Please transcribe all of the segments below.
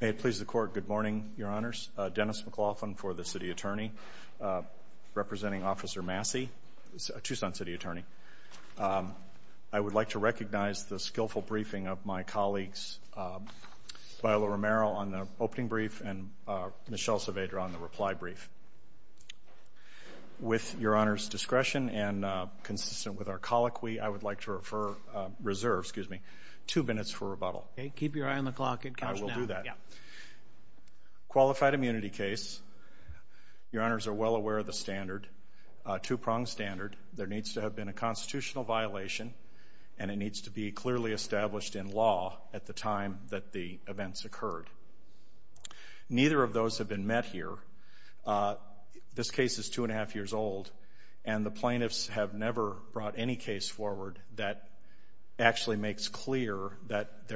May it please the Court, good morning, Your Honors. Dennis McLaughlin for the City Attorney, representing Officer Massie, Tucson City Attorney. I would like to recognize the skillful briefing of my colleagues Viola Romero on the opening brief and Michelle Saavedra on the reply brief. With Your Honor's discretion and consistent with our colloquy, I would like to reserve two minutes for rebuttal. Keep your eye on the clock. I will do that. Qualified immunity case, Your Honors are well aware of the standard, a two-pronged standard. There needs to have been a constitutional violation and it needs to be clearly established in law at the time that the events occurred. Neither of those have been met here. This case is two and a plaintiffs have never brought any case forward that actually makes clear that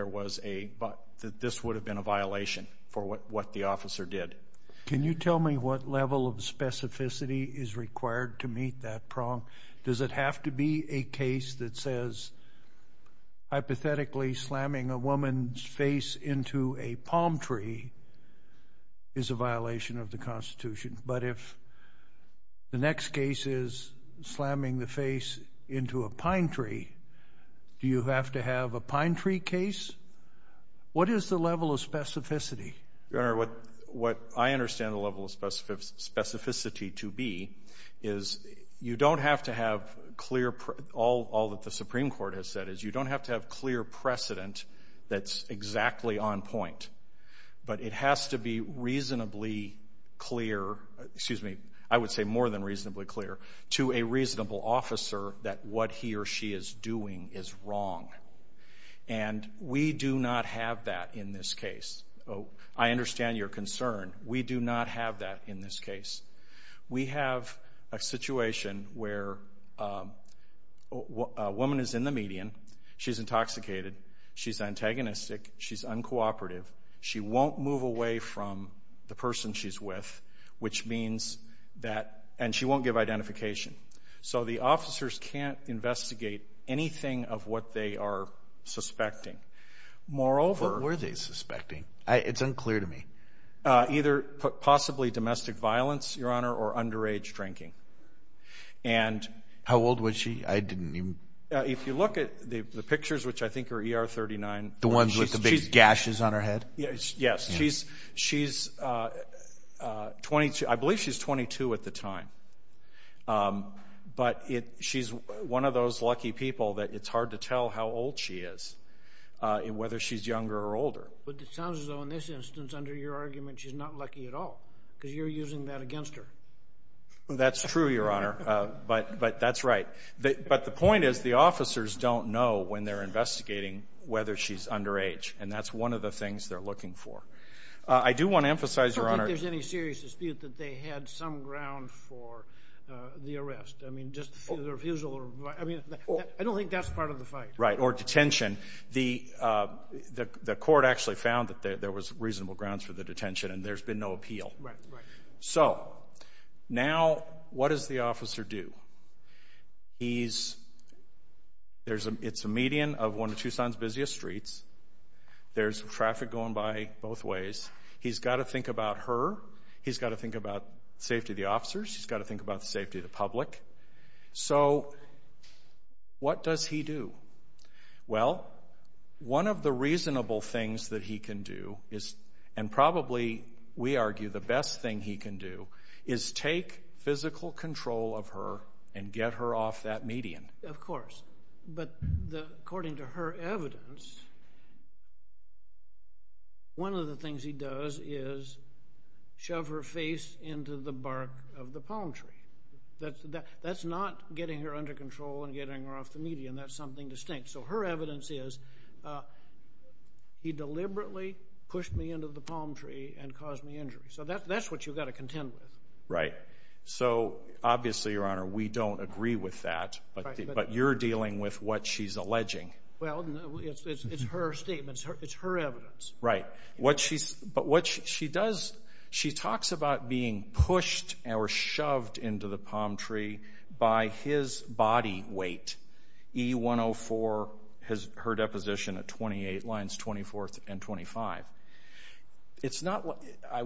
this would have been a violation for what the officer did. Can you tell me what level of specificity is required to meet that prong? Does it have to be a case that says hypothetically slamming a woman's face into a palm tree is a violation of the Constitution? But if the next case is slamming the face into a pine tree, do you have to have a pine tree case? What is the level of specificity? Your Honor, what I understand the level of specificity to be is you don't have to have clear, all that the Supreme Court has said is you don't have to have clear precedent that's exactly on point. But it has to be reasonably clear, excuse me, I would say more than reasonably clear to a reasonable officer that what he or she is doing is wrong. And we do not have that in this case. I understand your concern. We do not have that in this case. We have a situation where a woman is in the median. She's intoxicated. She's antagonistic. She's uncooperative. She won't move away from the person she's with, which means that, and she won't give identification. So the officers can't investigate anything of what they are suspecting. Moreover... What were they suspecting? It's unclear to me. Either possibly domestic violence, Your Honor, or underage drinking. How old was she? I didn't even... If you look at the pictures, which I think are ER39... The ones with the big gashes on her head? Yes. She's 22. I believe she's 22 at the time. But she's one of those lucky people that it's hard to tell how old she is, whether she's younger or older. But it sounds as though in this instance, under your argument, she's not lucky at all, because you're using that against her. That's true, Your Honor, but that's right. But the point is, the officers don't know when they're investigating whether she's underage, and that's one of the things they're looking for. I do want to emphasize, Your Honor... I don't think there's any serious dispute that they had some ground for the arrest. I mean, just the refusal... I don't think that's part of the fight. Right, or detention. The court actually found that there was reasonable grounds for the detention, and there's been no appeal. Right, right. So, now, what does the officer do? It's a median of one of Tucson's busiest streets. There's traffic going by both ways. He's got to think about her. He's got to think about safety of the officers. He's got to think about the safety of the public. So, what does he do? Well, one of the reasonable things that he can do is, and probably, we argue, the best thing he can do is take physical control of her and get her off that median. Of course, but according to her evidence, one of the things he does is shove her face into the bark of the palm tree. That's not getting her under control and getting her off the median. That's something distinct. So, her evidence is, he deliberately pushed me into the palm tree and caused me injury. So, that's what you've got to contend with. Right. So, obviously, Your Honor, we don't agree with that, but you're dealing with what she's alleging. Well, it's her statement. It's her evidence. Right. But what she does, she talks about being pushed or shoved into the palm tree by his body weight, E104, her deposition at 28 lines, 24th and 25. I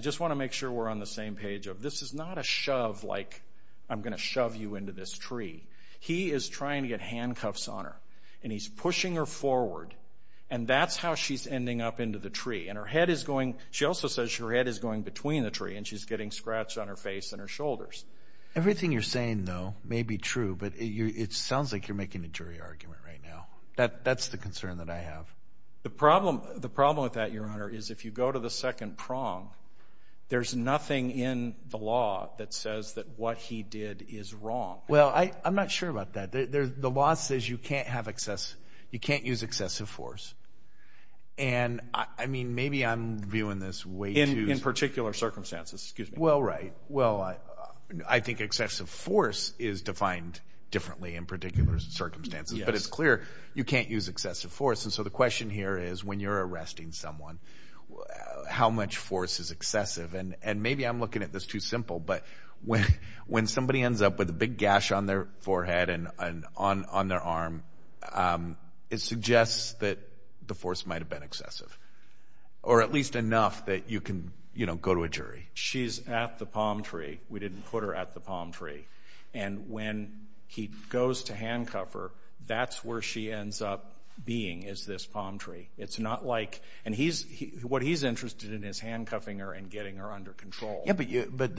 just want to make sure we're on the same page. This is not a shove like, I'm going to shove you into this tree. He is trying to get handcuffs on her. And he's pushing her forward. And that's how she's ending up into the tree. And her head is going, she also says her head is going between the tree, and she's getting scratched on her face and her shoulders. Everything you're saying, though, may be true, but it sounds like you're making a jury argument right now. That's the concern that I have. The problem with that, Your Honor, is if you go to the second prong, there's nothing in the law that says that what he did is wrong. Well, I'm not sure about that. The law says you can't use excessive force. And, I mean, maybe I'm viewing this way too... In particular circumstances, excuse me. Well, right. Well, I think excessive force is defined differently in particular circumstances. But it's clear you can't use excessive force. And so the question here is, when you're arresting someone, how much force is excessive? And maybe I'm looking at this too simple, but when somebody ends up with a big gash on their forehead and on their arm, it suggests that the force might have been excessive. Or at least enough that you can go to a jury. She's at the palm tree. We didn't put her at the palm tree. And when he goes to handcuff her, that's where she ends up being, is this palm tree. It's not like... And what he's interested in is handcuffing her and getting her under control. Yeah, but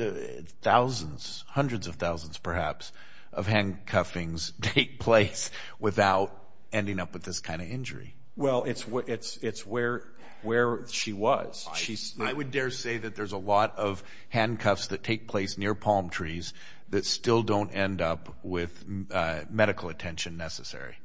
thousands, hundreds of thousands, perhaps, of handcuffings take place without ending up with this kind of injury. Well, it's where she was. I would dare say that there's a lot of handcuffs that take place near palm trees that still don't end up with medical attention necessary.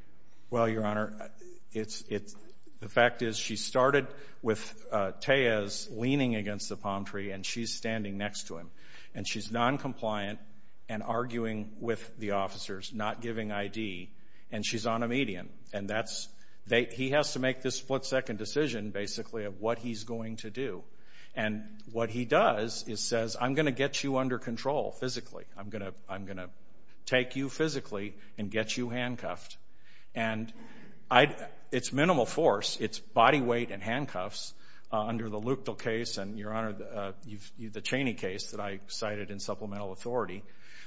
Well, Your Honor, the fact is she started with Tejas leaning against the palm tree and she's standing next to him. And she's noncompliant and arguing with the officers, not giving ID. And she's on a median. And he has to make this split-second decision, basically, of what he's going to do. And what he does is says, I'm going to get you under control physically. I'm going to take you physically and get you handcuffed. And it's minimal force. It's body weight and handcuffs under the Lukdal case and, Your Honor, the Chaney case that I cited in Supplemental Court.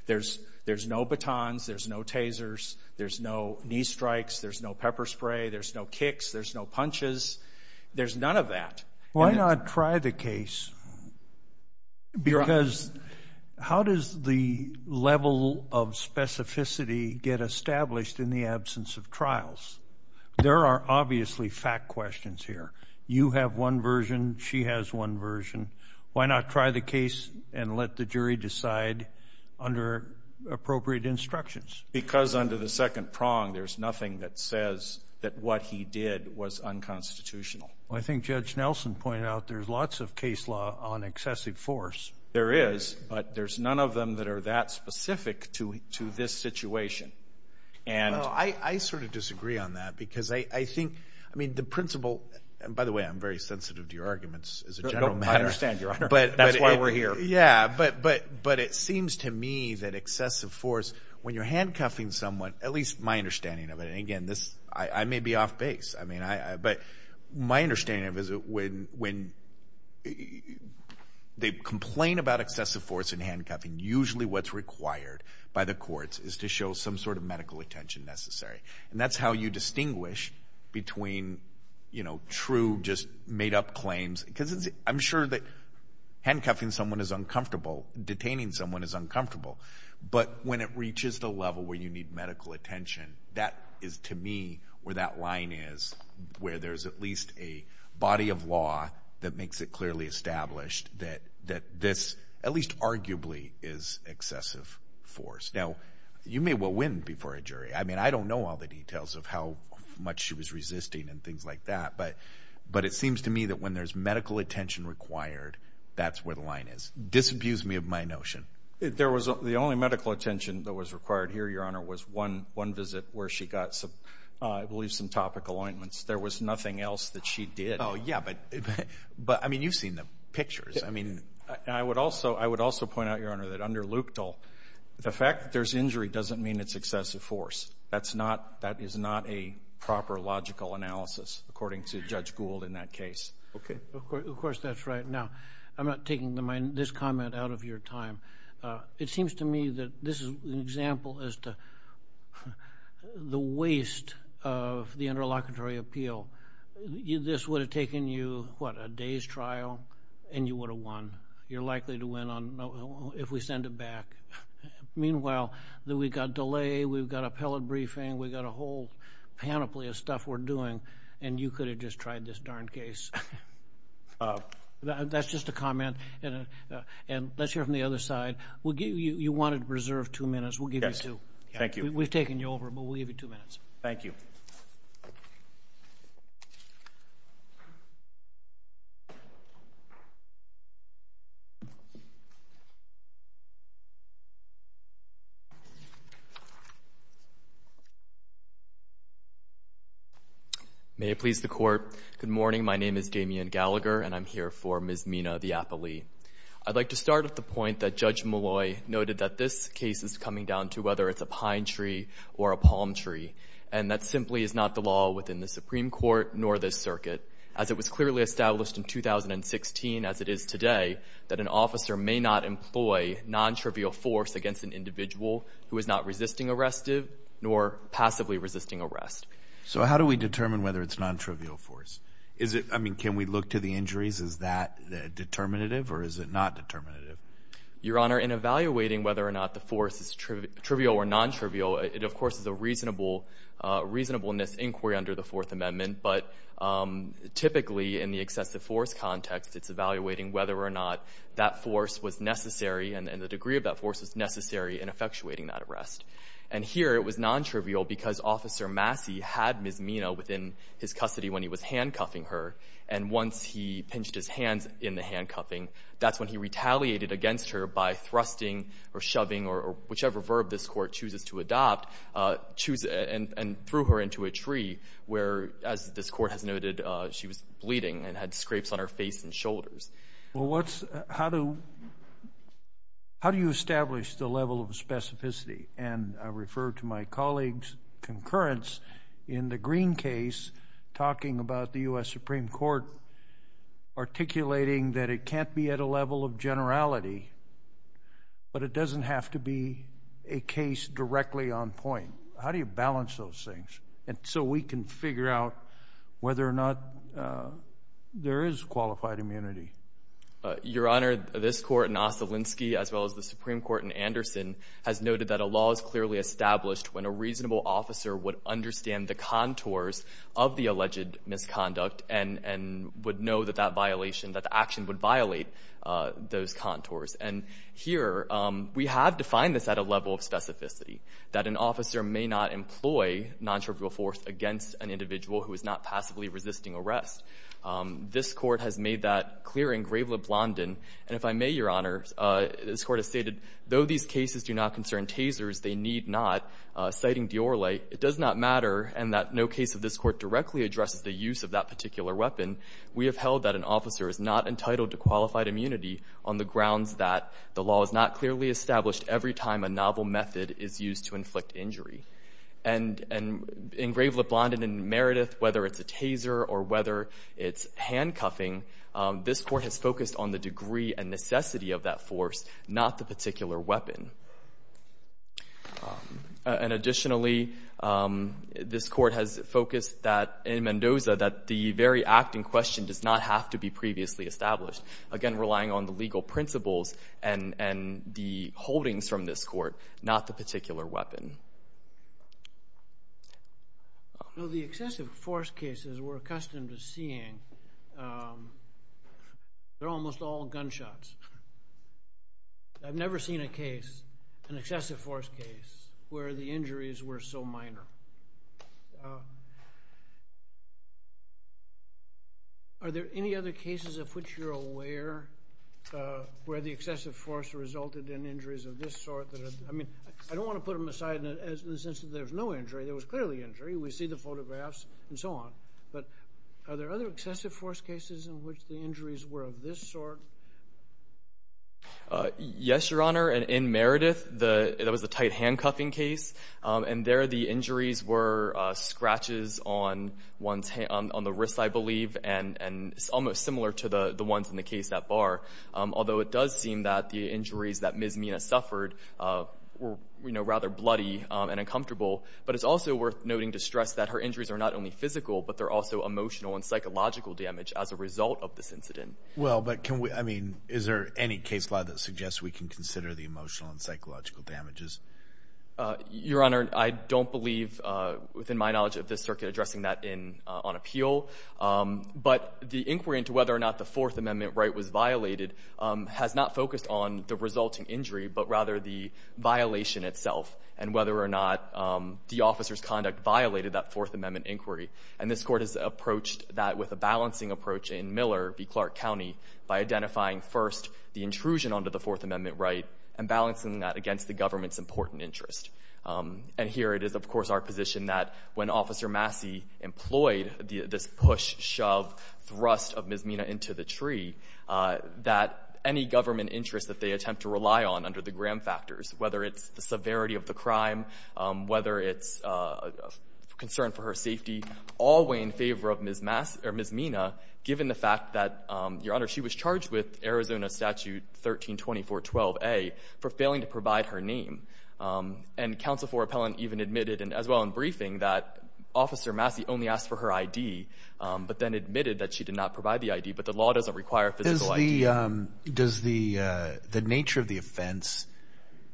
There's no batons. There's no tasers. There's no knee strikes. There's no pepper spray. There's no kicks. There's no punches. There's none of that. Why not try the case? Because how does the level of specificity get established in the absence of trials? There are obviously fact questions here. You have one version. She has one version. Why not try the case and let the jury decide under appropriate instructions? Because under the second prong, there's nothing that says that what he did was unconstitutional. I think Judge Nelson pointed out there's lots of case law on excessive force. There is, but there's none of them that are that specific to this situation. And I sort of disagree on that because I think, I mean, the principle, and by the way, I'm very sensitive to your arguments as a general matter. I understand, Your Honor. That's why we're here. But it seems to me that excessive force, when you're handcuffing someone, at least my understanding of it, and again, I may be off base, but my understanding of it is when they complain about excessive force in handcuffing, usually what's required by the courts is to show some sort of medical attention necessary. And that's how you distinguish between true, just made up claims, because I'm sure that handcuffing someone is uncomfortable, detaining someone is uncomfortable, but when it reaches the level where you need medical attention, that is to me where that line is, where there's at least a body of law that makes it clearly established that this, at least arguably, is excessive force. Now, you may well win before a jury. I mean, I don't know all the details of how much she was resisting and things like that, but it seems to me that when there's medical attention required, that's where the line is. Disabuse me of my notion. There was, the only medical attention that was required here, Your Honor, was one visit where she got, I believe, some topical ointments. There was nothing else that she did. Oh, yeah, but, I mean, you've seen the pictures. I mean, I would also point out, Your Honor, that under Lukedal, the fact that there's injury doesn't mean it's excessive force. That's not, that is not a proper logical analysis, according to Judge Gould in that case. Okay. Of course, that's right. Now, I'm not taking this comment out of your time. It seems to me that this is an example as to the waste of the interlocutory appeal. This would have taken you, what, a day's trial, and you would have won. You're likely to win if we send it back. Meanwhile, we've got delay, we've got appellate briefing, we've got a whole panoply of stuff we're doing, and you could have just tried this darn case. That's just a comment, and let's hear it from the other side. You wanted to preserve two minutes. We'll give you two. Yes, thank you. We've taken you over, but we'll give you two minutes. Thank you. May it please the Court. Good morning. My name is Damian Gallagher, and I'm here for Ms. Mina, the appellee. I'd like to start at the point that Judge Molloy noted that this case is coming down to whether it's a pine tree or a palm tree, and that simply is not the law within the Supreme Court nor this circuit. As it was clearly established in 2016 as it is today, that an officer may not employ non-trivial force against an individual who is not resisting arrestive nor passively resisting arrest. So how do we determine whether it's non-trivial force? I mean, can we look to the injuries? Is that determinative or is it not determinative? Your Honor, in evaluating whether or not the force is trivial or non-trivial, it of course is a reasonableness inquiry under the Fourth Amendment, but typically in the excessive force context, it's evaluating whether or not that force was necessary and the degree of that force was necessary in effectuating that arrest. And here it was non-trivial because Officer Massey had Ms. Mina within his custody when he was handcuffing her, and once he pinched his hands in the handcuffing, that's when he retaliated against her by thrusting or shoving or whichever verb this Court chooses to adopt, and threw her into a tree where, as this Court has noted, she was bleeding and had scrapes on her face and shoulders. Well, how do you establish the level of specificity? And I refer to my colleague's concurrence in the Green case talking about the U.S. Supreme Court articulating that it can't be at a level of generality, but it doesn't have to be a case directly on point. How do you balance those things so we can figure out whether or not there is qualified immunity? Your Honor, this Court in Ossolinsky, as well as the Supreme Court in Anderson, has noted that a law is clearly established when a reasonable officer would understand the contours of the those contours. And here, we have defined this at a level of specificity, that an officer may not employ non-trivial force against an individual who is not passively resisting arrest. This Court has made that clear in Grave Leblondon. And if I may, Your Honor, this Court has stated, though these cases do not concern tasers, they need not, citing Diorle, it does not matter, and that no case of this Court directly addresses the use of that particular weapon. We have held that an officer is not entitled to qualified immunity on the grounds that the law is not clearly established every time a novel method is used to inflict injury. And in Grave Leblondon and Meredith, whether it's a taser or whether it's handcuffing, this Court has focused on the degree and necessity of that force, not the particular weapon. And additionally, this Court has focused that, in Mendoza, that the very act in question does not have to be previously established. Again, relying on the legal principles and the holdings from this Court, not the particular weapon. No, the excessive force cases we're accustomed to seeing, they're almost all gunshots. I've never seen a case, an excessive force case, where the injuries were so minor. Are there any other cases of which you're aware where the excessive force resulted in injuries of this sort? I mean, I don't want to put them aside in the sense that there was no injury, there was clearly injury, we see the photographs and so on, but are there other excessive force cases in which the injuries were of this sort? Yes, Your Honor, in Meredith, there was a tight handcuffing case, and there the injuries were scratches on the wrist, I believe, and it's almost similar to the ones in the case at Barr, although it does seem that the injuries that Ms. Mina suffered were rather bloody and uncomfortable, but it's also worth noting to stress that her injuries are not only physical, but they're also emotional and psychological damage as a result of this incident. Well, but can we – I mean, is there any case law that suggests we can consider the emotional and psychological damages? Your Honor, I don't believe, within my knowledge of this circuit, addressing that on appeal, but the inquiry into whether or not the Fourth Amendment right was violated has not focused on the resulting injury, but rather the violation itself and whether or not the officer's conduct violated that Fourth Amendment inquiry. And this Court has approached that with a balancing approach in Miller v. Clark County by identifying first the intrusion onto the Fourth Amendment right and balancing that against the government's important interest. And here it is, of course, our position that when Officer Massey employed this push, shove, thrust of Ms. Mina into the tree, that any government interest that they attempt to rely on under the Graham factors, whether it's the severity of the crime, whether it's a concern for her safety, all weigh in favor of Ms. Massey – or Ms. Mina, given the fact that, Your Honor, she was charged with Arizona Statute 1324.12a for failing to provide her name. And counsel for appellant even admitted, as well in briefing, that Officer Massey only asked for her I.D., but then admitted that she did not provide the I.D., but the law doesn't require physical I.D. Does the nature of the offense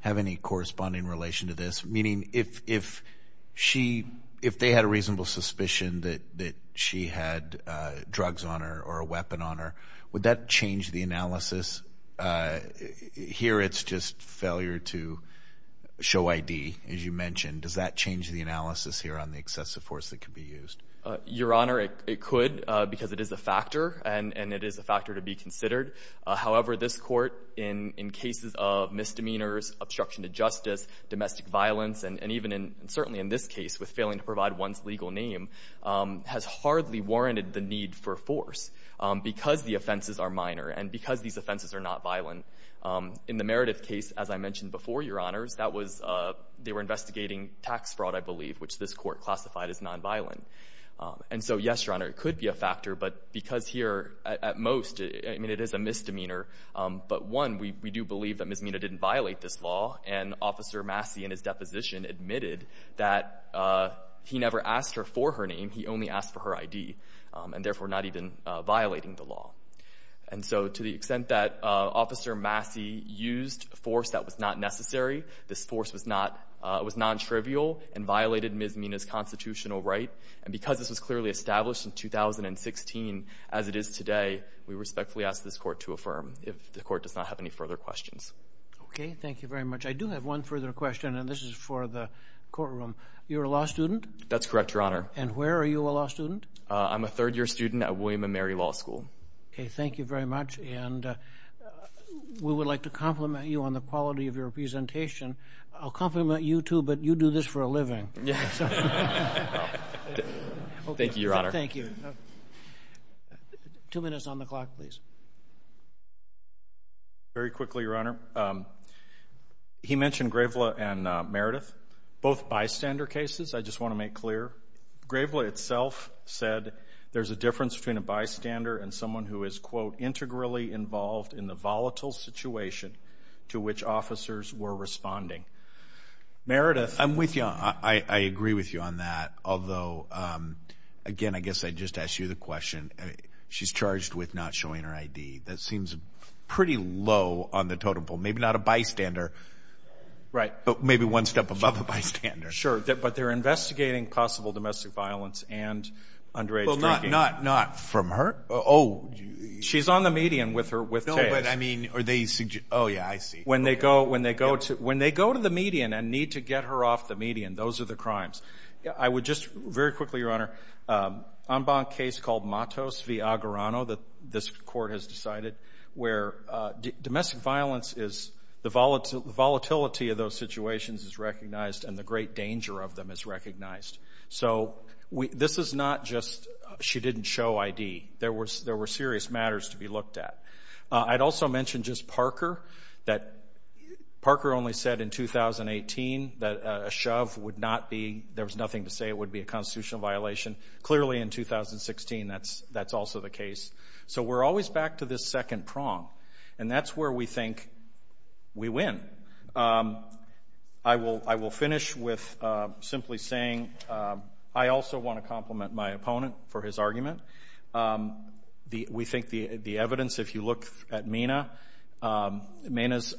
have any corresponding relation to this? Meaning if they had a reasonable suspicion that she had drugs on her or a weapon on her, would that change the analysis? Here it's just failure to show I.D., as you mentioned. Does that change the analysis here on the excessive force that could be used? Your Honor, it could, because it is a factor, and it is a factor to be considered. However, this Court, in cases of misdemeanors, obstruction to justice, domestic violence, and even certainly in this case with failing to provide one's legal name, has hardly warranted the need for force because the offenses are minor and because these offenses are not violent. In the Meredith case, as I mentioned before, Your Honors, that was – they were And so, yes, Your Honor, it could be a factor, but because here, at most, I mean, it is a misdemeanor. But one, we do believe that Ms. Mina didn't violate this law, and Officer Massey in his deposition admitted that he never asked her for her name. He only asked for her I.D., and therefore not even violating the law. And so to the extent that Officer Massey used force that was not necessary, this force was not – was nontrivial and violated Ms. Mina's constitutional right, and because this was clearly established in 2016 as it is today, we respectfully ask this Court to affirm if the Court does not have any further questions. Okay, thank you very much. I do have one further question, and this is for the courtroom. You're a law student? That's correct, Your Honor. And where are you a law student? I'm a third-year student at William & Mary Law School. Okay, thank you very much, and we would like to compliment you on the quality of your presentation. I'll compliment you, too, but you do this for a living. Yes. Thank you, Your Honor. Thank you. Two minutes on the clock, please. Very quickly, Your Honor. He mentioned Gravela and Meredith, both bystander cases. I just want to make clear. Gravela itself said there's a difference between a bystander and someone who is, quote, integrally involved in the volatile situation to which officers were responding. Meredith. I'm with you on that. I agree with you on that, although, again, I guess I'd just ask you the question. She's charged with not showing her ID. That seems pretty low on the totem pole, maybe not a bystander, but maybe one step above a bystander. Sure, but they're investigating possible domestic violence and underage drinking. Not from her? She's on the median with her case. Oh, yeah, I see. When they go to the median and need to get her off the median, those are the crimes. I would just, very quickly, Your Honor, an en banc case called Matos v. Aguarano that this court has decided, where domestic violence is the volatility of those situations is recognized and the great danger of them is recognized. So this is not just she didn't show ID. There were serious matters to be looked at. I'd also mention just Parker. Parker only said in 2018 that a shove would not be, there was nothing to say it would be a constitutional violation. Clearly, in 2016, that's also the case. So we're always back to this second prong, and that's where we think we win. I will finish with simply saying I also want to compliment my opponent for his argument. We think the evidence, if you look at Mina's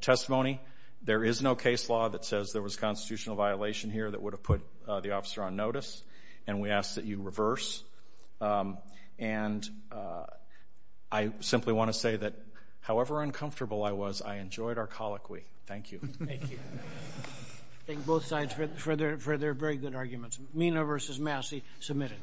testimony, there is no case law that says there was a constitutional violation here that would have put the officer on notice, and we ask that you reverse. And I simply want to say that however uncomfortable I was, I enjoyed our colloquy. Thank you. Thank you. Thank both sides for their very good arguments. Mina v. Massey, submitted.